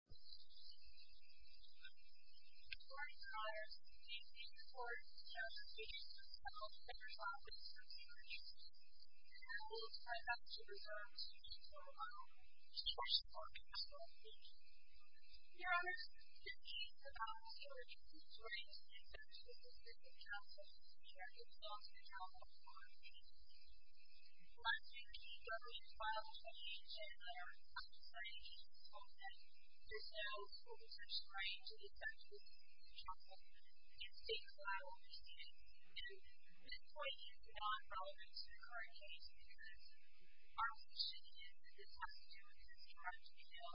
CaringONERS VP reports, Chairman Robney Richardson has held members office for two weeks and has sent a few reserves to each of them, with the hopes of being a stopping point. Mr Robertson, you declared yesterday that the four units of the Community Council should discuss any challenging concepts on independent agency and policyласhing. The DW's filed a change and they're not deciding anything. There's no solicitation for any independent agency. It's a cloud. This point is not relevant to the current case because our position is that this has to do with the district of Columbia Hill.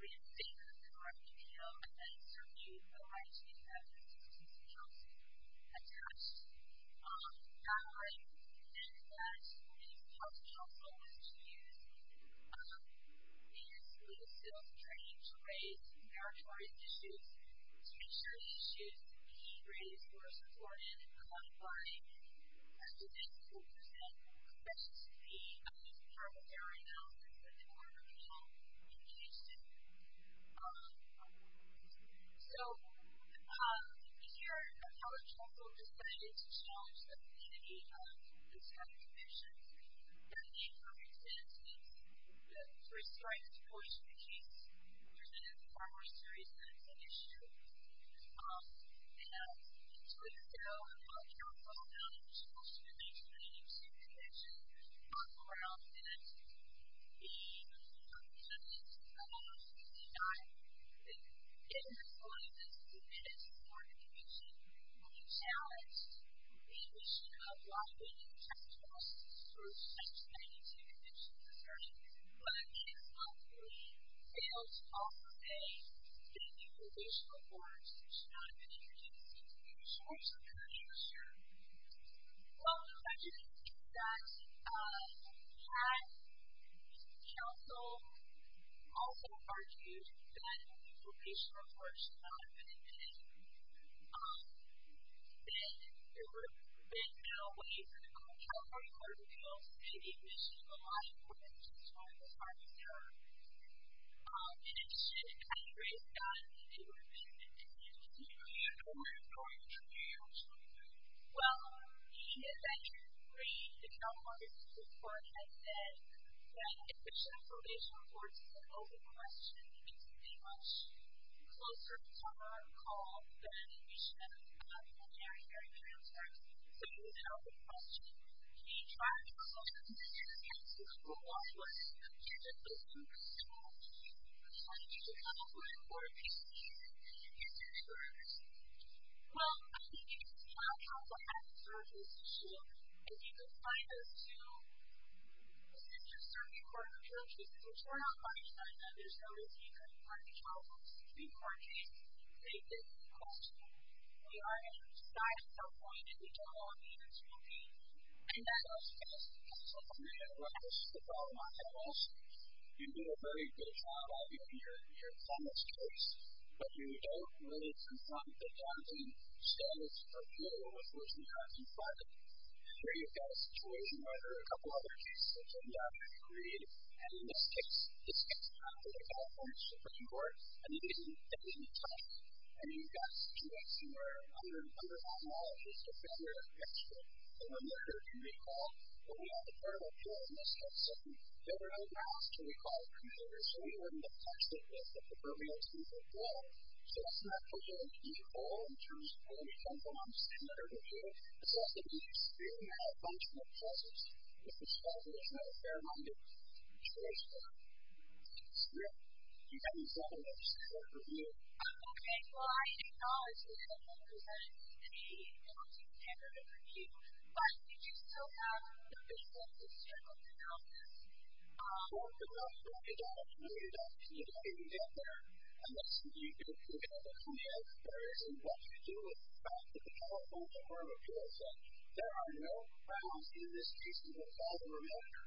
We have favors with the district of Columbia Hill. I'm going to serve you the right to be a member of the District of Columbia Council. Attached. I recommend that the District of Columbia Council is to use the legislative training to raise meritorious issues, to make sure the issues being raised were supported by representatives who present to the Community Council area in order to help with the issue. So, if you're a college council and decided to challenge the community on this kind of issue, that would be, for instance, to restrict the voice of the case. There's been a primary series of that issue. And so, if you're a college council and you're supposed to be making an agency convention, talk around that. Even if you don't have an agency, I don't know if you can deny it, but if you're going to submit it to the Board of Commissioners, you're going to be challenged with the issue of why we need to test the process for such an agency convention. I'm just assertive. Is it true that a case like yours fails all the day, then the location report should not have been introduced? Is it true? Is it true? Is it true? Well, I would just say that my council also argues that the location report should not have been introduced. And it should, at any rate, not have been introduced. Do you agree with that? Do you agree with that? Well, he eventually agreed to come on this report and said that if the location report is an open question, it needs to be much closer to our call than it should be very, very transparent. So, it's an open question. Can you talk to us a little bit about the answer to the question, why would a case like this be an open question? How did you come up with it? What did you see? Is there a difference? Well, I think you can see our council has a certain position, and you can find those two. But there's just a certain point of view. I'm just going to turn it on my end, and there's no reason you couldn't find the council to do more cases to make it an open question. We are not at a point in which our audience will be. I think that has to do with the council's opinion of what is the problem on campus. You did a very good job of it in your comments case, but you don't really confront the founding standards or feel of what's going on in front of you. Here you've got a situation where there are a couple other cases that have been done and agreed, and this takes time for the California Supreme Court, and it isn't done in time. I mean, you've got two weeks, and we're under a number of monologues. It's a failure of text that we're not sure to recall, but we have a portable tool in this case, and we don't really know how else to recall it from here, so we wouldn't have touched it with the proverbial Supreme Court rule. So that's not a totally unusual rule in terms of what we've done for months, and what we're going to do. It's also going to be extremely malfunctioning, because there's no fair amount of choice there. It's great. You've got yourself a nice court review. Okay. Well, I acknowledge that I don't represent any founding standard of review, but did you still have the vision of the Supreme Court in your office? Well, we're going to have to work it out. If we don't get it done today, we'll get there. Unless you do, we're going to have to come back. There isn't much we can do with the fact that the California Court of Appeals said there are no problems in this case, and we'll call the remover.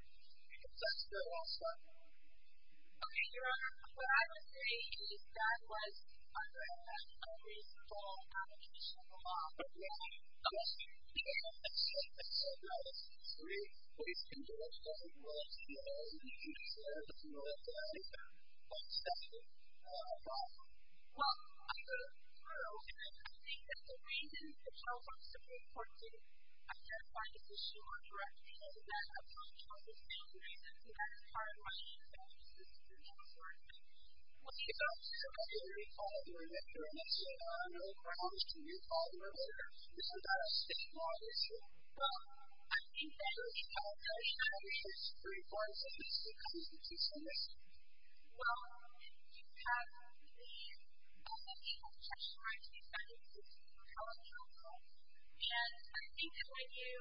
That's good also. Okay, Your Honor. What I would say is that was a reasonable application of law. But, really, unless you can't accept it, I would really please congratulate the Supreme Court. You deserve more than that. Thank you. Thank you. Well, I agree with the rule, and I think that the reason the California Supreme Court did identify this issue more directly than a political decision, is because it's hard to understand the Supreme Court's approach. What's your thoughts? So, you recall, during this hearing, Your Honor, for how much can you call the remover? This is about a six-month issue. Well, I think that the California Supreme Court is a specific agency. So, let's see. Well, you have the knowledge of textual rights, and you've done a good job of that. And I think that when you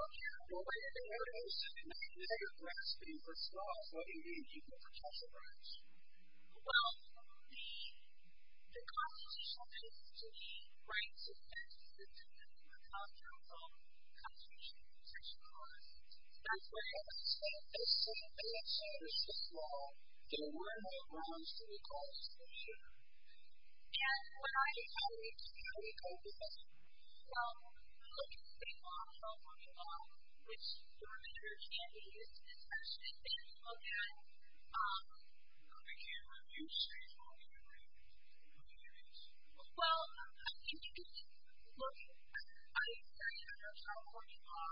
look at the way that they wrote it, you said it might be that you're grasping for straws. What do you mean? Do you think you're grasping for straws? Well, the Constitution, I think, to me, writes its text in terms of how powerful the Constitution is. That's right. That's right. It's something that seems so small. There were no grounds to be grasping for straws. And when I was having trouble with this, so looking at the law in California law, which, Your Honor, can be used in this section, if you look at the camera, you say, well, you're right. You're right. Well, I think that, look, I said in terms of California law,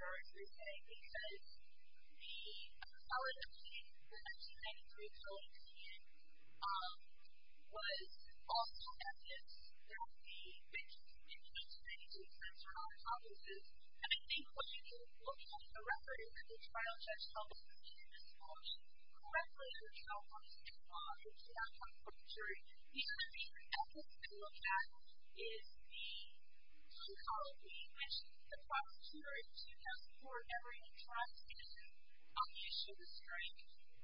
as they say, because the acceleration in 1993 going to the end was also evidence that the, in 1993, censored all the offices. And I think when you look at the record of the trial judge's offices in this court, correctly, the trial judge's office is not a juvenile prosecutory. The other thing that you have to look at is the psychology, which the prosecutor in 2004 never even tried to get on the issue of restraint.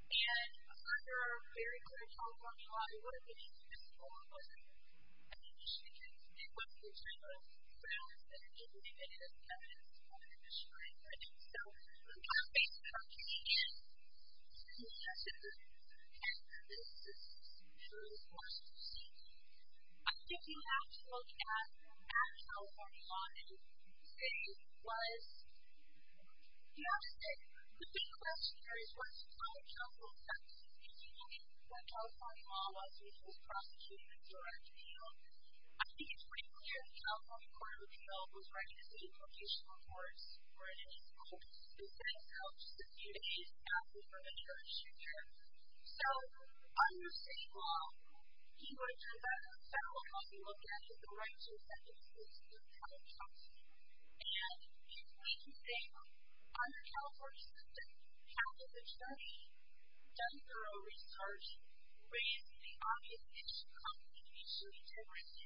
And under a very clear California law, you wouldn't get into this at all. It wasn't an issue that was in general. But I don't think that it is evidence of restraint right now. So we've got to face the fact that, again, this is a sensitive issue. And this is a very important issue. I think you absolutely have to look at California law. And the thing was, you know what I'm saying? The big question here is, what's it like in California? Because if you look at what California law was, which was prosecuting the direct appeal, I think it's pretty clear that the California Court of Appeal was writing the city location reports for an 8th court. They sent out just a few days after the judge's hearing. So under city law, you would come back to the federal court and look at the rights and sentences in the California Constitution. And if we can say, under California system, how did the judge, done thorough research, raise the obvious issue of the issue of integrity,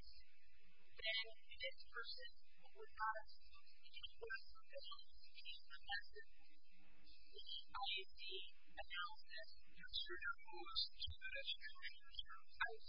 then this person would not have to speak in court because he was being professive. I doubt that Mr. Darbois should have a solution to this. I would say that he should do the judge's work. And so I think that's just the way it is. I think that's just the way it is. And I think that's just the way it is. I mean, I think that's a very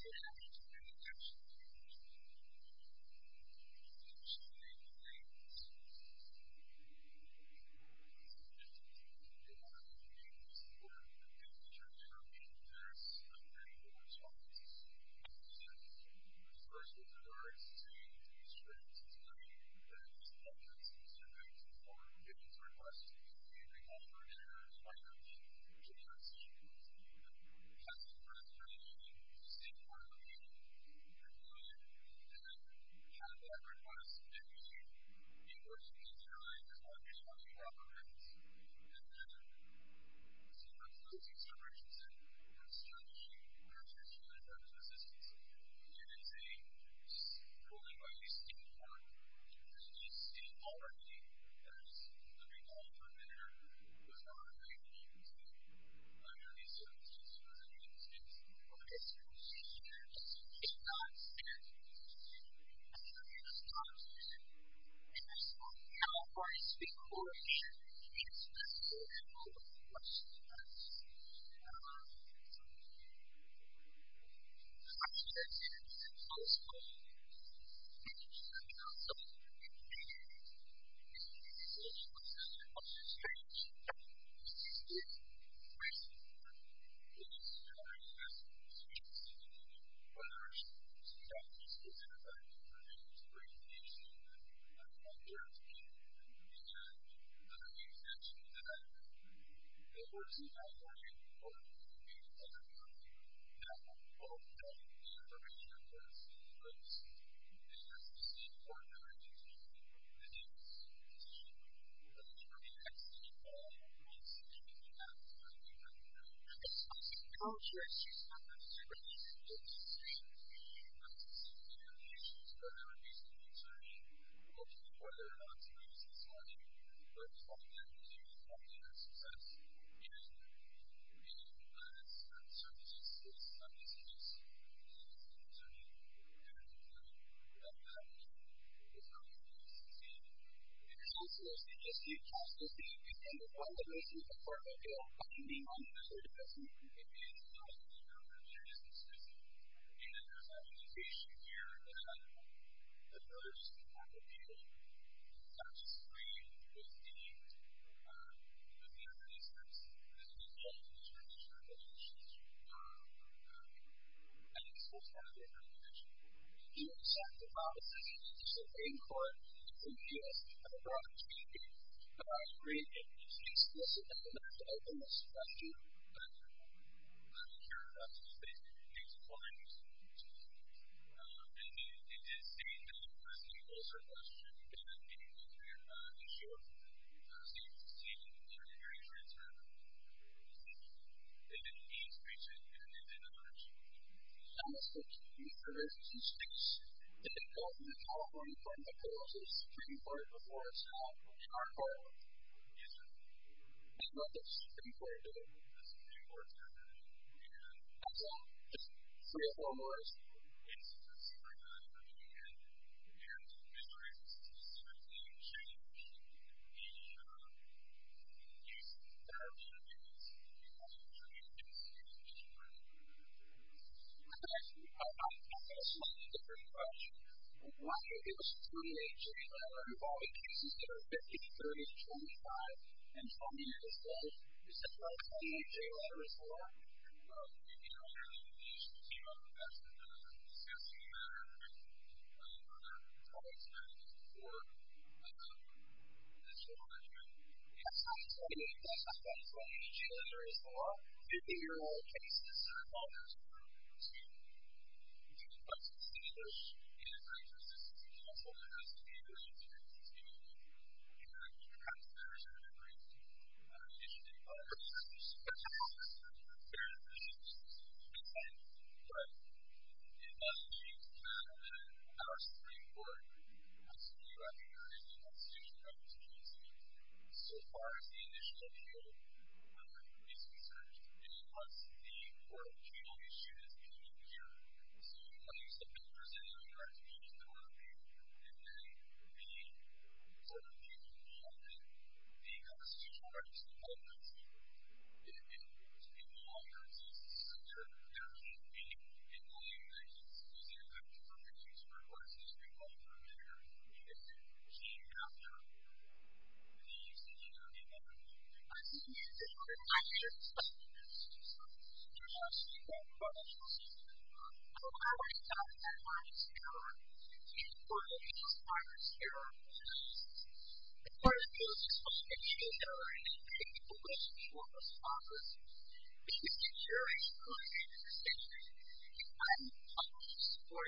important point. I think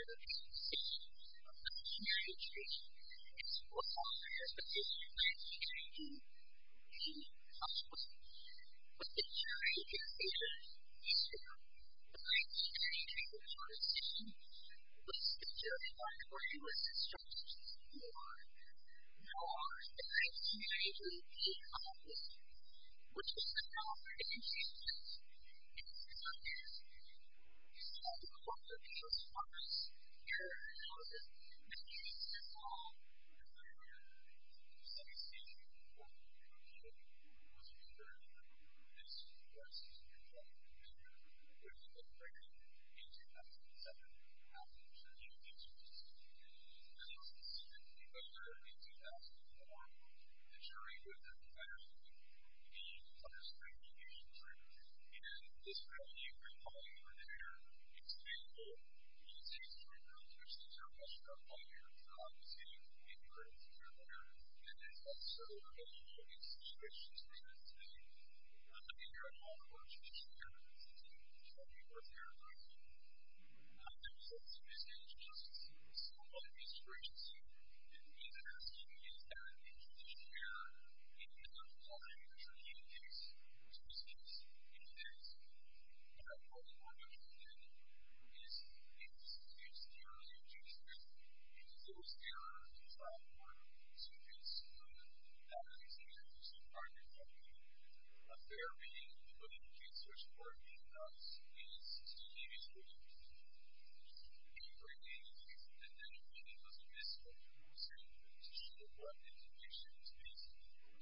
that's just the way it is.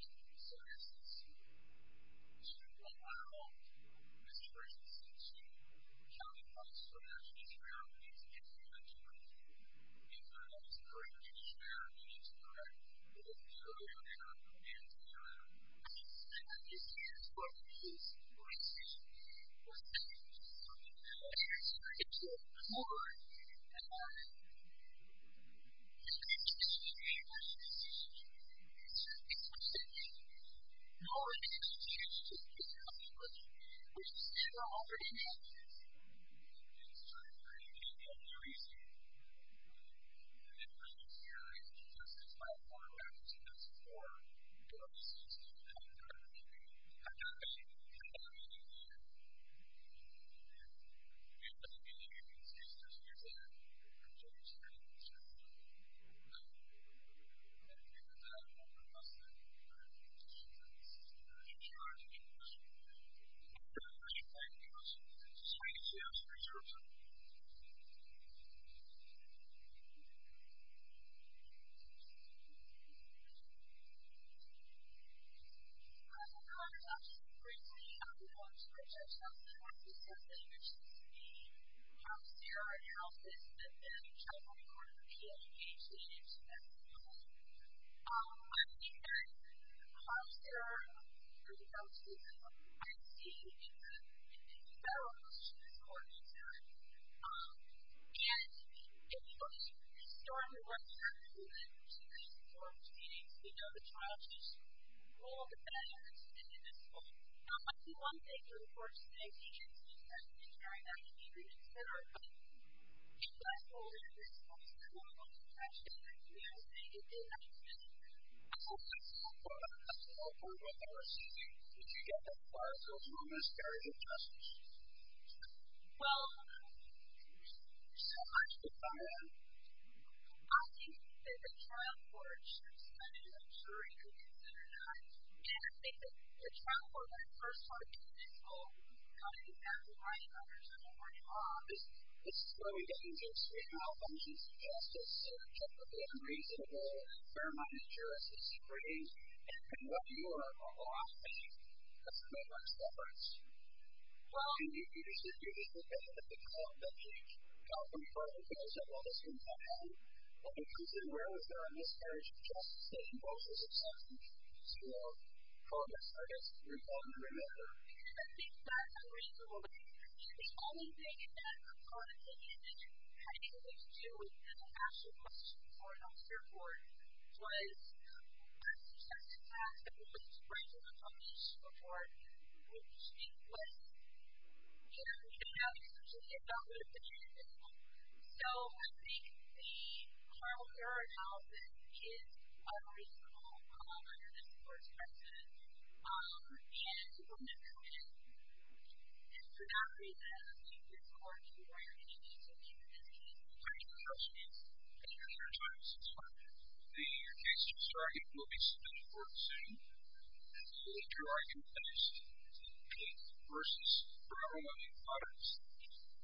I think that's just the way it is. All right. So that's just totally fine. That's absolutely fine. Mr. Dargois, you're next. Under Harris Constitution, if this California, the state court in the last six years has asked the question that I'm responding to, the questioner sent us a bolster call to make sure that we're not simply giving generic opinions because the concession of the state is just a waste of time. It is a time-consuming decision. But there are some factors that I think are going to bring the issue to the people that I'm here to meet and that I'm here to mention that the courts in California or in any other county have all done the information that's in place and that's the state court that I just mentioned to make this decision. Mr. Dargois, you're next. I'm going to say anything you have to say. You have the floor. Oh, sure. Mr. Dargois, you're next. I'm going to say anything you have to say in relation to whatever reason you're concerning or to the court that I'm on today as it's my first time here and I'm very excited about your success in meeting some of these issues, some of these issues that you're concerning or that you're concerned about and how you've been able to succeed. The counselors, they just need counselors to be able to come to the court that makes me feel part of it. You know, I can be on the court if that's what you think it is and that's what I'm here for. I'm here to assist you. I think that there's an education here that the jurors cannot appeal without disagreeing with the evidence that's being held in terms of the regulations that are out there. And this goes back to what I mentioned. You have to set the policy and you have to survey the court to give us an opportunity to operate in an explicit manner to open this question. Thank you. I'm not sure if that's what you're saying. I think it's important. I think it's important. It is saying that the question is also a question that I'm thinking about here. I'm sure. So you can see and I'm sure you can answer that. Thank you. And it means reaching an end in a nutshell. I'm going to switch gears and speak to the court in California from the closest Supreme Court before us now, which is our court. Yes, sir. We love this Supreme Court building. This Supreme Court building. And... I'm sorry. Just three or four more words. It's a Supreme Court building and there's a history that's consistently being changed in the use of firearms 50-year-old cases are called in this courtroom. It's quite a distinguished and very consistent council that has to be in place in order to continue and perhaps better serve and bring initiative to the Supreme Court. There is a history that's been changed but it doesn't change the fact that our Supreme Court has to be represented in the Constitution by the Supreme Court. So far, this is the initial appeal when it was researched. It was the oral appeal issue that's been used here. So, when you say represented by the Constitution there ought to be and then be sort of the law and the constitutional rights that govern those people. In law, in court, it's easy to say there has to be in law, in the United States, it's easy to say there's a permanent use for firearms in the Supreme Court in the United States. So, you have to have the Supreme Court and the Constitution as a unit that's not a national system that's just a national system. So, there's no state that's not a national system. So, how would you define the firearms here in court if there's firearms here in the United States? In court, there's a system that shows that there are independent people in the Supreme Court who are responsible because the jurors who are in the decision are the ones who supported the decision of the Constitution and so, of course, there's a position that's changing in the house of law but the jury in the case of Easter, the jury in the case of the Constitution was the jury that was instructed for the law and the jury who came out of it which was the law for the United States and the Supreme Court is the law in the court of appeals for us here in the house of law making it simple for the Supreme Court to determine who was a member of the group who this was in fact a member of the group who was a member in 2007 after the jury was introduced and this was a member in 2004 the jury who is a member of the group who became a member of the Supreme Court and this jury we're calling for their expendable usage of firearms which they are much more familiar with seeing in their experience and it's also available in situations where they were not familiar at all with traditional weapons that they were familiar with I have since recently introduced some of these questions here and what I'm asking is that in tradition where in the law it's not required to consume firearms and use firearms at all a fair being to put into a search warrant is to leave it with you can you bring me anything that anyone can know the use of firearms as part of the case which I think will be submitted forward soon so that your argument matters please versus firearm abuse matters thank you